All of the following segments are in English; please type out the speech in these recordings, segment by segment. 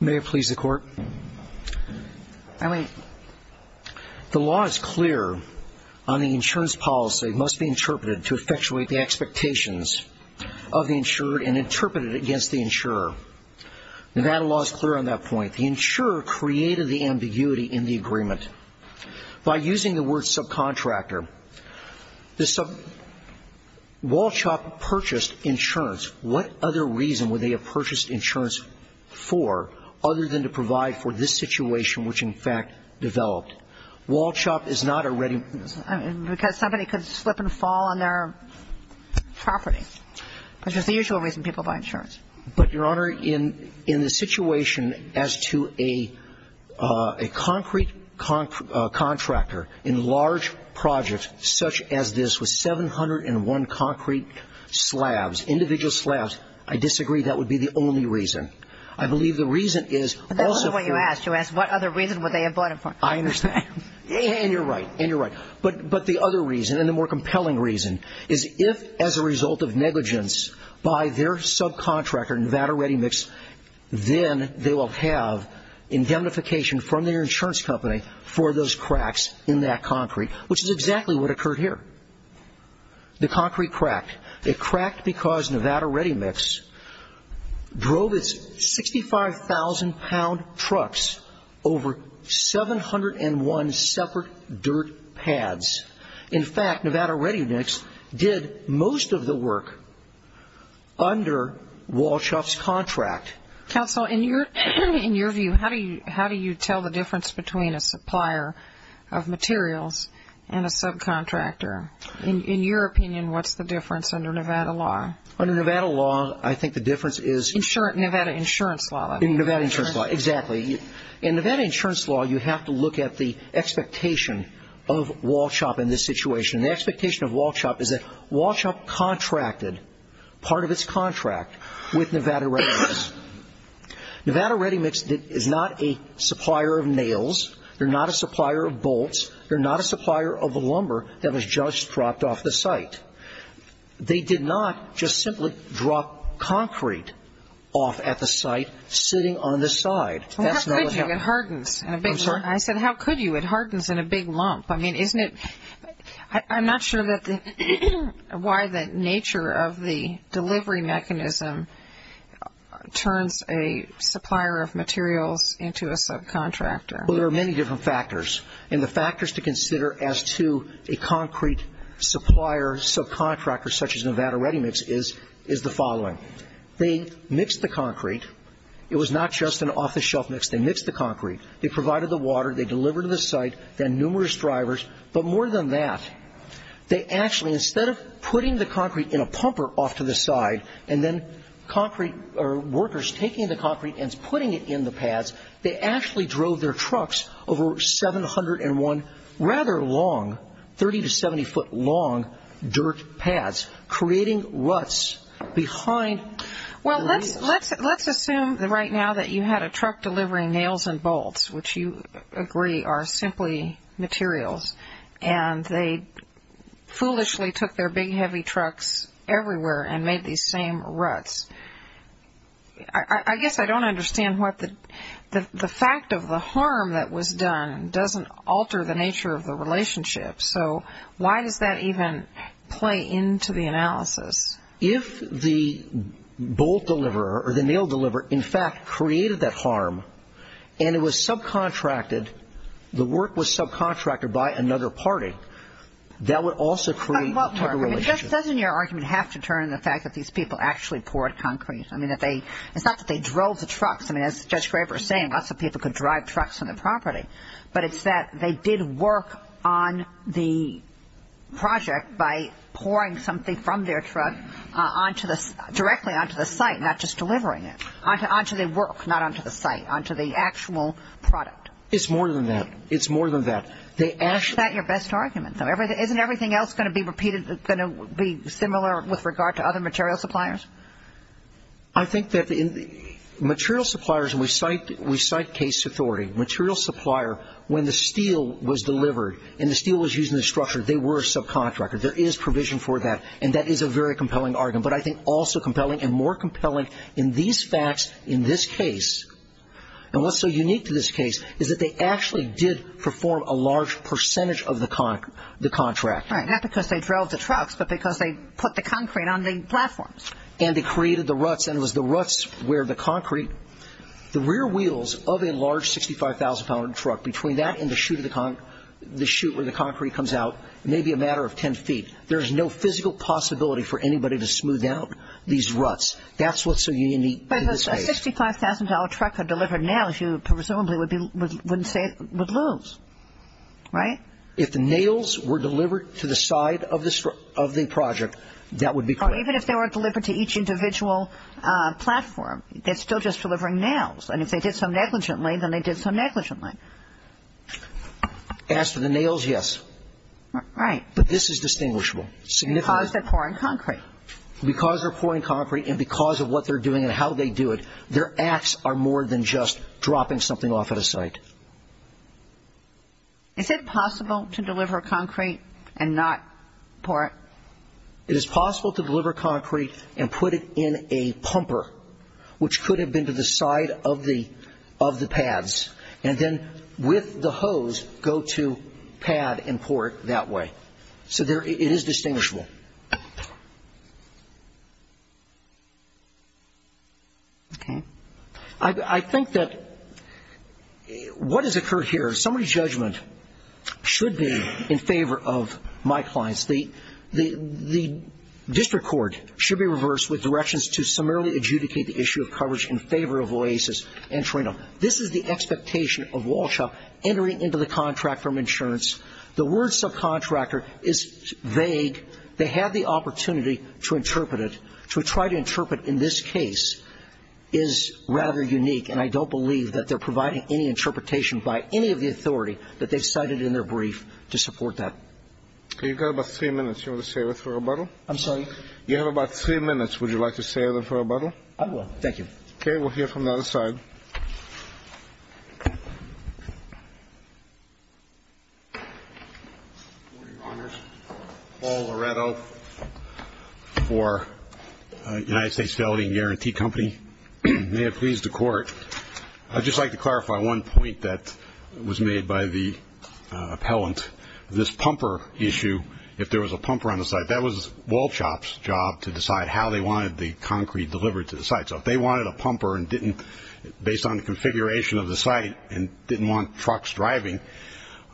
May I please the court? I mean... The law is clear on the insurance policy must be interpreted to effectuate the expectations of the insured and interpreted against the insurer. Nevada law is clear on that point. The insurer created the ambiguity in the agreement. By using the word subcontractor, the sub... Wallchop purchased insurance. What other reason would they have purchased insurance for other than to provide for this situation which in fact developed? Wallchop is not a ready... Because somebody could slip and fall on their property, which is the usual reason people buy insurance. But, Your Honor, in the situation as to a concrete contractor in large projects such as this with 701 concrete slabs, individual slabs, I disagree that would be the only reason. I believe the reason is... But that's not what you asked. You asked what other reason would they have bought it for. I understand. And you're right. And you're right. But the other reason, and the more compelling reason, is if as a result of negligence by their subcontractor Nevada Ready Mix, then they will have indemnification from their insurance company for those cracks in that concrete, which is exactly what occurred here. The concrete cracked. It cracked because Nevada Ready Mix drove its 65,000 pound trucks over 701 separate dirt pads. In fact, Nevada Ready Mix did most of the work under Wallchop's contract. Counsel, in your view, how do you tell the difference between a supplier of materials and a subcontractor? In your opinion, what's the difference under Nevada law? Under Nevada law, I think the difference is... Nevada insurance law. Nevada insurance law, exactly. In Nevada insurance law, you have to look at the expectation of Wallchop in this situation. The expectation of Wallchop is that Wallchop contracted part of its contract with Nevada Ready Mix. Nevada Ready Mix is not a supplier of nails. They're not a supplier of bolts. They're not a supplier of lumber that was just dropped off the site. They did not just simply drop concrete off at the site sitting on the side. Well, how could you? It hardens in a big lump. I'm sorry? I'm not sure why the nature of the delivery mechanism turns a supplier of materials into a subcontractor. Well, there are many different factors, and the factors to consider as to a concrete supplier subcontractor such as Nevada Ready Mix is the following. They mixed the concrete. It was not just an off-the-shelf mix. They mixed the concrete. They provided the water. They delivered to the site. They had numerous drivers. But more than that, they actually, instead of putting the concrete in a pumper off to the side and then workers taking the concrete and putting it in the pads, they actually drove their trucks over 701 rather long, 30 to 70 foot long dirt pads, creating ruts behind the rails. Well, let's assume right now that you had a truck delivering nails and bolts, which you agree are simply materials, and they foolishly took their big heavy trucks everywhere and made these same ruts. I guess I don't understand what the fact of the harm that was done doesn't alter the nature of the relationship. If the bolt deliverer or the nail deliverer, in fact, created that harm and it was subcontracted, the work was subcontracted by another party, that would also create a relationship. But Mark, doesn't your argument have to turn to the fact that these people actually poured concrete? I mean, it's not that they drove the trucks. I mean, as Judge Graber is saying, lots of people could drive trucks on the property. But it's that they did work on the project by pouring something from their truck directly onto the site, not just delivering it, onto the work, not onto the site, onto the actual product. It's more than that. It's more than that. Is that your best argument? Isn't everything else going to be repeated, going to be similar with regard to other material suppliers? I think that material suppliers, and we cite case authority, material supplier, when the steel was delivered and the steel was used in the structure, they were a subcontractor. There is provision for that, and that is a very compelling argument. But I think also compelling and more compelling in these facts in this case, and what's so unique to this case is that they actually did perform a large percentage of the contract. Right, not because they drove the trucks, but because they put the concrete on the platforms. And they created the ruts, and it was the ruts where the concrete, the rear wheels of a large 65,000-pound truck, between that and the chute where the concrete comes out, may be a matter of 10 feet. There is no physical possibility for anybody to smooth out these ruts. That's what's so unique to this case. But a $65,000 truck had delivered nails. You presumably wouldn't say it would lose, right? If the nails were delivered to the side of the project, that would be correct. Even if they weren't delivered to each individual platform, they're still just delivering nails. And if they did so negligently, then they did so negligently. As for the nails, yes. Right. But this is distinguishable. Because they're pouring concrete. Because they're pouring concrete and because of what they're doing and how they do it, their acts are more than just dropping something off at a site. Is it possible to deliver concrete and not pour it? It is possible to deliver concrete and put it in a pumper, which could have been to the side of the pads, and then with the hose go to pad and pour it that way. So it is distinguishable. Okay. I think that what has occurred here is somebody's judgment should be in favor of my clients. The district court should be reversed with directions to summarily adjudicate the issue of coverage in favor of OASIS and Trinum. This is the expectation of Walshaw entering into the contract from insurance. The word subcontractor is vague. They have the opportunity to interpret it, to try to interpret in this case is rather unique, and I don't believe that they're providing any interpretation by any of the authority that they've cited in their brief to support that. Okay. You've got about three minutes. Do you want to save it for rebuttal? I'm sorry? You have about three minutes. Would you like to save it for rebuttal? I will. Thank you. Okay. We'll hear from the other side. Good morning, Your Honors. Paul Loretto for United States Felony and Guarantee Company. May it please the Court, I'd just like to clarify one point that was made by the appellant. This pumper issue, if there was a pumper on the site, that was Walshaw's job to decide how they wanted the concrete delivered to the site. So if they wanted a pumper and didn't, based on the configuration of the site, and didn't want trucks driving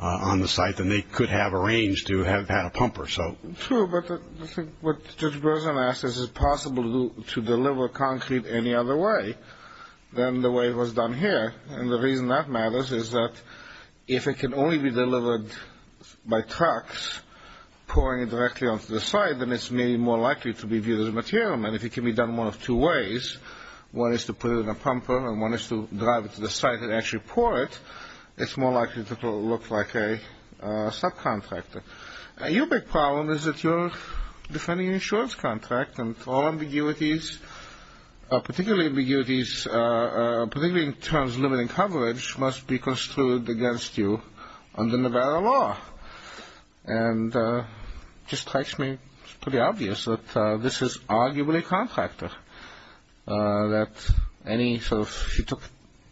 on the site, then they could have arranged to have had a pumper. True, but I think what Judge Berzin asked is, is it possible to deliver concrete any other way than the way it was done here? And the reason that matters is that if it can only be delivered by trucks pouring it directly onto the site, then it's maybe more likely to be viewed as a material. And if it can be done one of two ways, one is to put it in a pumper and one is to drive it to the site and actually pour it, it's more likely to look like a subcontractor. Your big problem is that you're defending an insurance contract, and all ambiguities, particularly in terms of limiting coverage, must be construed against you under Nevada law. And it just strikes me as pretty obvious that this is arguably a contractor. She took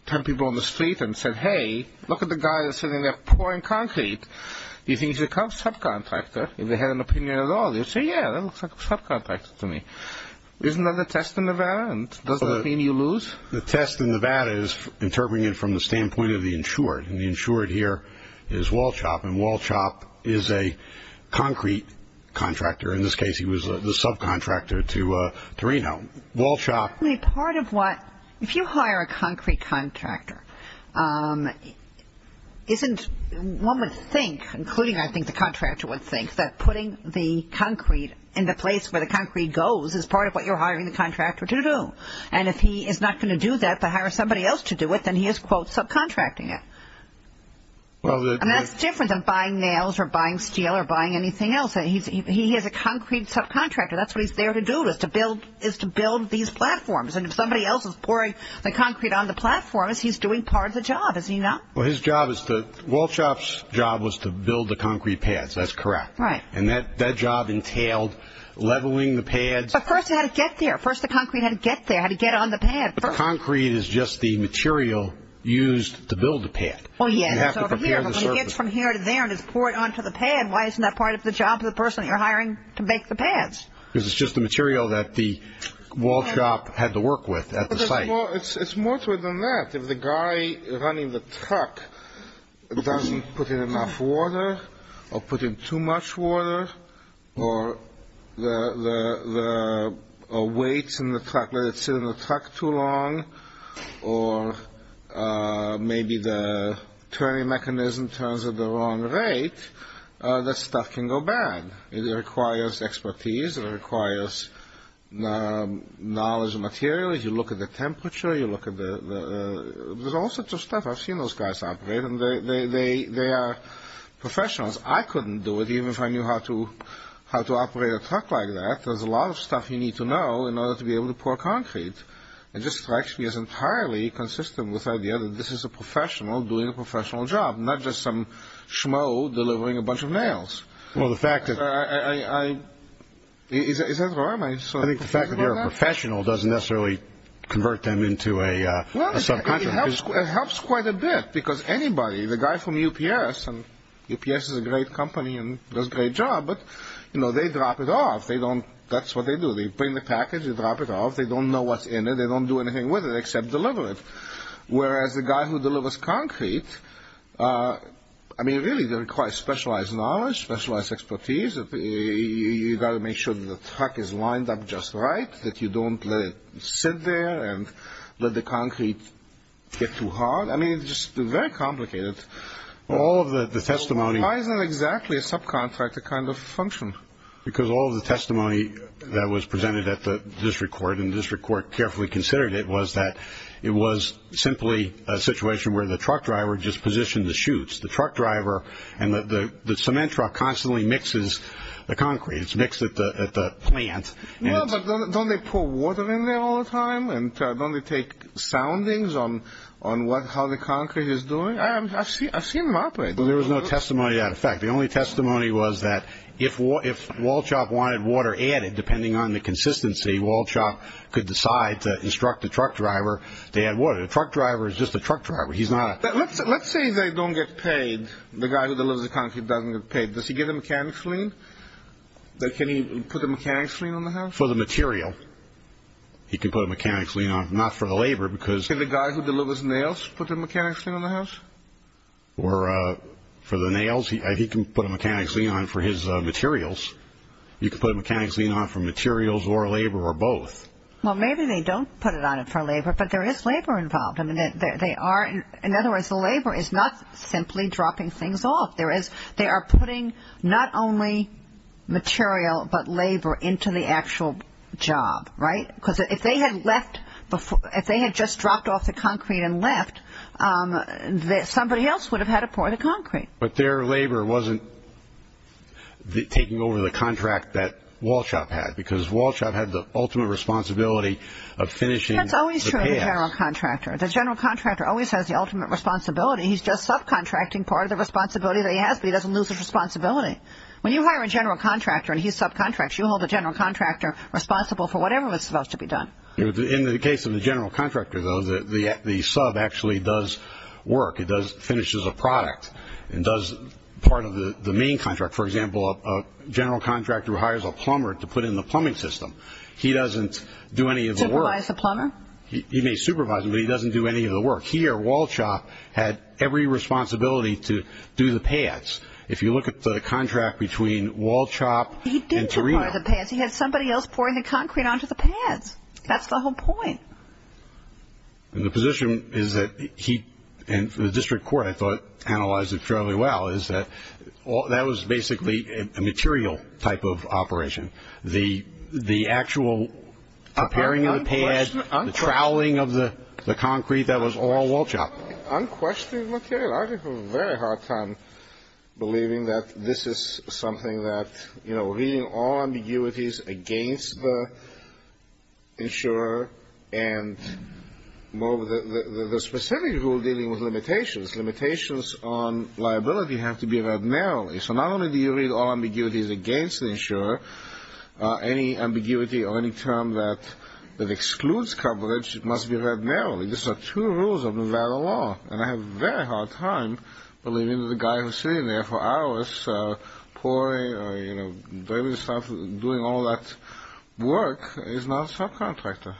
ten people on the street and said, hey, look at the guy that's sitting there pouring concrete. Do you think he's a subcontractor? If they had an opinion at all, they'd say, yeah, that looks like a subcontractor to me. Isn't that a test in Nevada? Does that mean you lose? The test in Nevada is interpreting it from the standpoint of the insured. And the insured here is Walchop, and Walchop is a concrete contractor. In this case, he was the subcontractor to Reno. Walchop. If you hire a concrete contractor, one would think, including I think the contractor would think, that putting the concrete in the place where the concrete goes is part of what you're hiring the contractor to do. And if he is not going to do that but hire somebody else to do it, then he is, quote, subcontracting it. And that's different than buying nails or buying steel or buying anything else. He is a concrete subcontractor. That's what he's there to do is to build these platforms. And if somebody else is pouring the concrete on the platform, he's doing part of the job, is he not? Well, Walchop's job was to build the concrete pads. That's correct. Right. And that job entailed leveling the pads. But first he had to get there. First the concrete had to get there, had to get on the pad first. The concrete is just the material used to build the pad. Oh, yes. You have to prepare the surface. It gets from here to there and is poured onto the pad. Why isn't that part of the job of the person you're hiring to make the pads? Because it's just the material that the Walchop had to work with at the site. It's more than that. If the guy running the truck doesn't put in enough water or put in too much water or the weight in the truck, let it sit in the truck too long, or maybe the turning mechanism turns at the wrong rate, that stuff can go bad. It requires expertise. It requires knowledge of materials. You look at the temperature. You look at the – there's all sorts of stuff. I've seen those guys operate, and they are professionals. I couldn't do it, even if I knew how to operate a truck like that. There's a lot of stuff you need to know in order to be able to pour concrete. It just strikes me as entirely consistent with the idea that this is a professional doing a professional job, not just some schmo delivering a bunch of nails. Is that wrong? I think the fact that you're a professional doesn't necessarily convert them into a subcontractor. It helps quite a bit because anybody, the guy from UPS, and UPS is a great company and does a great job, but they drop it off. That's what they do. They bring the package. They drop it off. They don't know what's in it. They don't do anything with it except deliver it, whereas the guy who delivers concrete – I mean, really, it requires specialized knowledge, specialized expertise. You've got to make sure that the truck is lined up just right, that you don't let it sit there and let the concrete get too hard. I mean, it's just very complicated. Why isn't exactly a subcontractor kind of function? Because all of the testimony that was presented at the district court, and the district court carefully considered it, was that it was simply a situation where the truck driver just positioned the chutes. The truck driver and the cement truck constantly mixes the concrete. It's mixed at the plant. But don't they pour water in there all the time, and don't they take soundings on how the concrete is doing? I've seen them operate. There was no testimony to that effect. The only testimony was that if Walshop wanted water added, depending on the consistency, Walshop could decide to instruct the truck driver to add water. The truck driver is just a truck driver. Let's say they don't get paid, the guy who delivers the concrete doesn't get paid. Does he get a mechanic's lien? Can he put a mechanic's lien on the house? For the material. He can put a mechanic's lien on it, not for the labor. Can the guy who delivers nails put a mechanic's lien on the house? Or for the nails, he can put a mechanic's lien on it for his materials. You can put a mechanic's lien on it for materials or labor or both. Well, maybe they don't put it on it for labor, but there is labor involved. In other words, the labor is not simply dropping things off. They are putting not only material but labor into the actual job, right? Because if they had just dropped off the concrete and left, somebody else would have had to pour the concrete. But their labor wasn't taking over the contract that Walshop had because Walshop had the ultimate responsibility of finishing the path. That's always true of the general contractor. The general contractor always has the ultimate responsibility. He's just subcontracting part of the responsibility that he has, but he doesn't lose his responsibility. When you hire a general contractor and he subcontracts, you hold the general contractor responsible for whatever was supposed to be done. In the case of the general contractor, though, the sub actually does work. It finishes a product and does part of the main contract. For example, a general contractor who hires a plumber to put in the plumbing system, he doesn't do any of the work. Supervise the plumber? He may supervise him, but he doesn't do any of the work. Here, Walshop had every responsibility to do the paths. If you look at the contract between Walshop and Torino. He didn't pour the paths. He had somebody else pouring the concrete onto the paths. That's the whole point. The position is that he and the district court, I thought, analyzed it fairly well, is that that was basically a material type of operation. The actual preparing of the paths, the troweling of the concrete, that was all Walshop. Unquestioned material. I had a very hard time believing that this is something that, you know, reading all ambiguities against the insurer and the specific rule dealing with limitations. Limitations on liability have to be read narrowly. So not only do you read all ambiguities against the insurer, any ambiguity or any term that excludes coverage must be read narrowly. These are two rules of Nevada law, and I had a very hard time believing that the guy who's sitting there for hours pouring, you know, doing all that work is not a subcontractor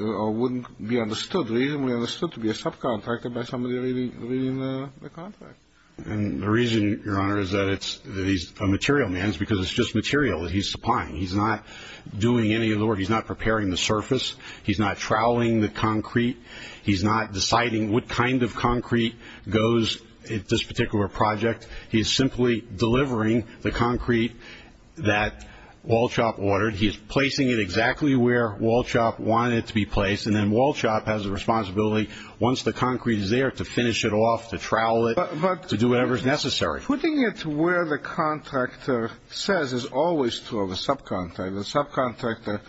or wouldn't be reasonably understood to be a subcontractor by somebody reading the contract. And the reason, Your Honor, is that he's a material man is because it's just material that he's supplying. He's not doing any of the work. He's not preparing the surface. He's not troweling the concrete. He's not deciding what kind of concrete goes in this particular project. He's simply delivering the concrete that Walshop ordered. He's placing it exactly where Walshop wanted it to be placed, and then Walshop has a responsibility once the concrete is there to finish it off, to trowel it. To do whatever is necessary. Putting it where the contractor says is always true of a subcontractor. The subcontractor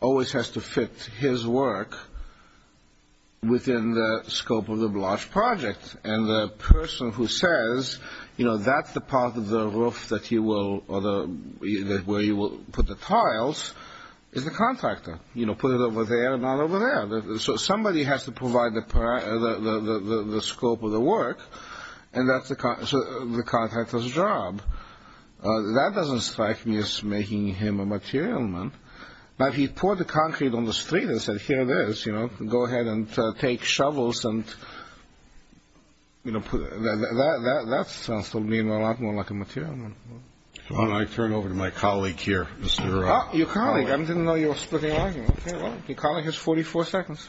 always has to fit his work within the scope of the large project, and the person who says, you know, that's the part of the roof that he will, or where he will put the tiles, is the contractor. You know, put it over there, not over there. So somebody has to provide the scope of the work, and that's the contractor's job. That doesn't strike me as making him a material man. But if he poured the concrete on the street and said, here it is, you know, go ahead and take shovels and, you know, that sounds to me a lot more like a material man. Why don't I turn it over to my colleague here, Mr. Oh, your colleague. I didn't know you were splitting up. Well, your colleague has 44 seconds.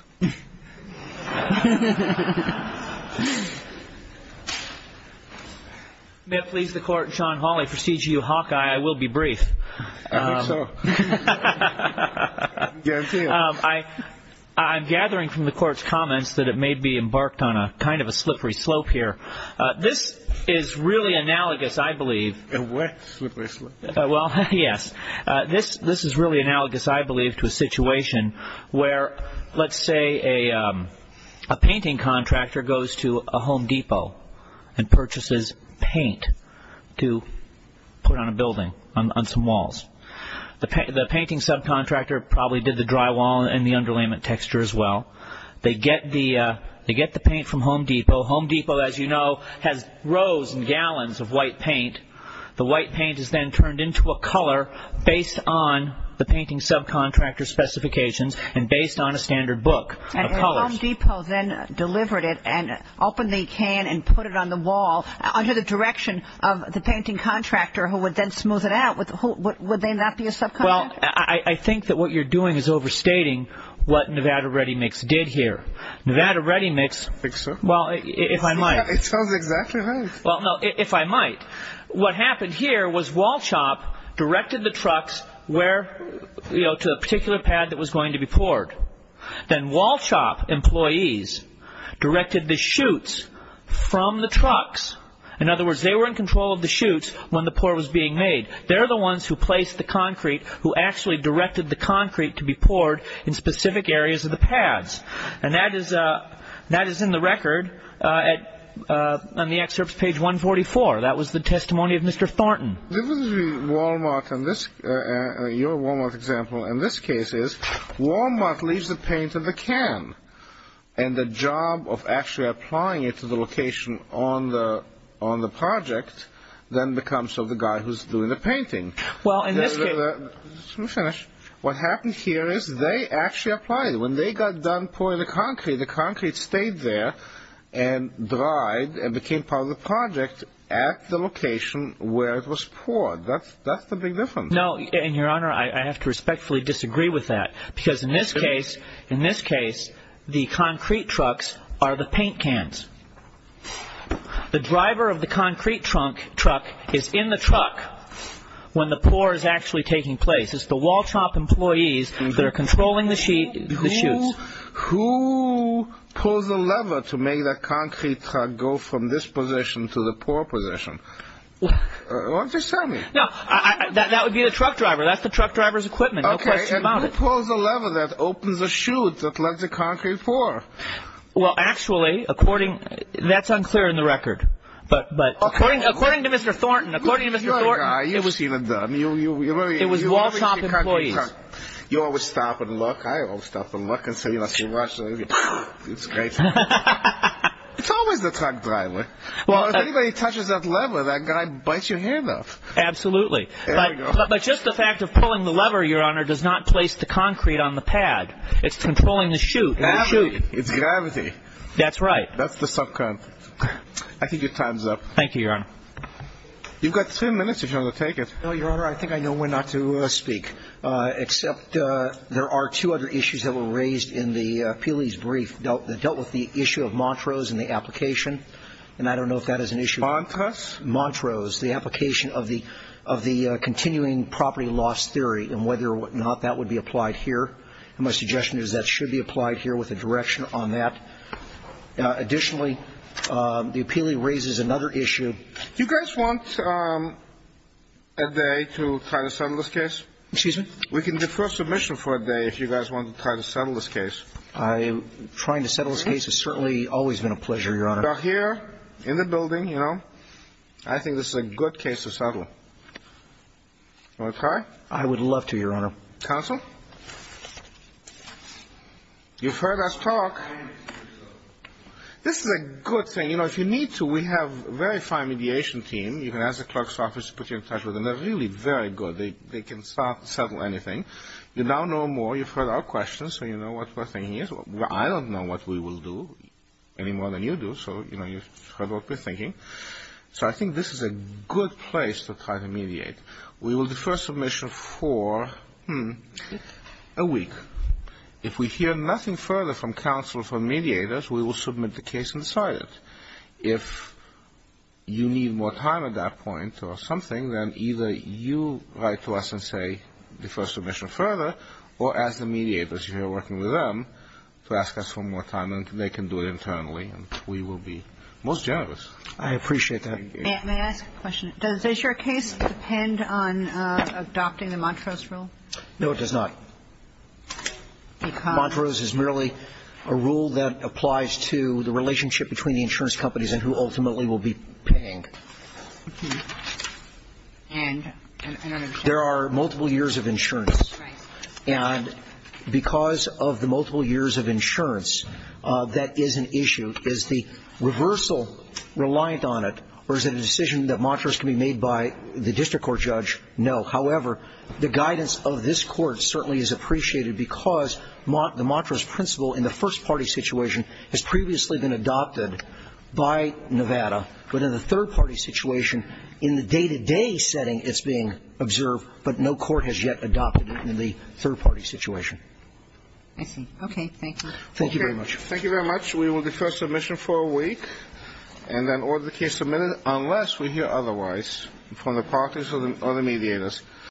May it please the court, Sean Hawley, for CGU Hawkeye, I will be brief. I think so. I'm gathering from the court's comments that it may be embarked on a kind of a slippery slope here. This is really analogous, I believe. A what? Slippery slope. Well, yes. This is really analogous, I believe, to a situation where, let's say, a painting contractor goes to a Home Depot and purchases paint to put on a building, on some walls. The painting subcontractor probably did the drywall and the underlayment texture as well. They get the paint from Home Depot. Home Depot, as you know, has rows and gallons of white paint. The white paint is then turned into a color based on the painting subcontractor's specifications and based on a standard book of colors. And Home Depot then delivered it and opened the can and put it on the wall under the direction of the painting contractor who would then smooth it out. Would they not be a subcontractor? Well, I think that what you're doing is overstating what Nevada Ready Mix did here. Nevada Ready Mix, well, if I might. It sounds exactly right. Well, no, if I might. What happened here was Walshop directed the trucks to a particular pad that was going to be poured. Then Walshop employees directed the chutes from the trucks. In other words, they were in control of the chutes when the pour was being made. They're the ones who placed the concrete, who actually directed the concrete to be poured in specific areas of the pads. And that is in the record on the excerpt page 144. That was the testimony of Mr. Thornton. Your Wal-Mart example in this case is Wal-Mart leaves the paint in the can. And the job of actually applying it to the location on the project then becomes of the guy who's doing the painting. Well, in this case. Let me finish. What happened here is they actually applied it. When they got done pouring the concrete, the concrete stayed there and dried and became part of the project at the location where it was poured. That's the big difference. No, and, Your Honor, I have to respectfully disagree with that. Because in this case, in this case, the concrete trucks are the paint cans. The driver of the concrete truck is in the truck when the pour is actually taking place. It's the Wal-Chomp employees that are controlling the shoots. Who pulls the lever to make the concrete truck go from this position to the pour position? Why don't you just tell me? No, that would be the truck driver. That's the truck driver's equipment. No question about it. Okay, and who pulls the lever that opens the chute that lets the concrete pour? Well, actually, according, that's unclear in the record. But according to Mr. Thornton, according to Mr. Thornton. You're a good guy. You've seen it done. It was Wal-Chomp employees. You always stop and look. I always stop and look and say, you know, so watch. It's great. It's always the truck driver. Well, if anybody touches that lever, that guy bites your hand off. Absolutely. But just the fact of pulling the lever, Your Honor, does not place the concrete on the pad. It's controlling the chute. It's gravity. That's right. That's the sub-current. I think your time's up. Thank you, Your Honor. You've got 10 minutes if you want to take it. Well, Your Honor, I think I know when not to speak, except there are two other issues that were raised in the appealee's brief that dealt with the issue of Montrose and the application. And I don't know if that is an issue. Montrose? Montrose, the application of the continuing property loss theory and whether or not that would be applied here. And my suggestion is that should be applied here with a direction on that. Additionally, the appealee raises another issue. You guys want a day to try to settle this case? Excuse me? We can defer submission for a day if you guys want to try to settle this case. Trying to settle this case has certainly always been a pleasure, Your Honor. You are here in the building, you know. I think this is a good case to settle. Want to try? I would love to, Your Honor. Counsel? You've heard us talk. This is a good thing. You know, if you need to, we have a very fine mediation team. You can ask the clerk's office to put you in touch with them. They're really very good. They can settle anything. You now know more. You've heard our questions, so you know what we're thinking. I don't know what we will do any more than you do, so, you know, you've heard what we're thinking. So I think this is a good place to try to mediate. We will defer submission for a week. If we hear nothing further from counsel or from mediators, we will submit the case and decide it. If you need more time at that point or something, then either you write to us and say defer submission further, or ask the mediators, if you're working with them, to ask us for more time, and they can do it internally, and we will be most generous. I appreciate that. May I ask a question? Does your case depend on adopting the Montrose rule? No, it does not. Montrose is merely a rule that applies to the relationship between the insurance companies and who ultimately will be paying. And I don't understand. There are multiple years of insurance. Right. And because of the multiple years of insurance, that is an issue. Is the reversal reliant on it, or is it a decision that Montrose can be made by the district court judge? No. However, the guidance of this court certainly is appreciated because the Montrose principle in the first-party situation has previously been adopted by Nevada, but in the third-party situation, in the day-to-day setting, it's being observed, but no court has yet adopted it in the third-party situation. I see. Okay. Thank you. Thank you very much. Thank you very much. We will defer submission for a week and then order the case submitted, unless we hear otherwise from the parties or the mediators.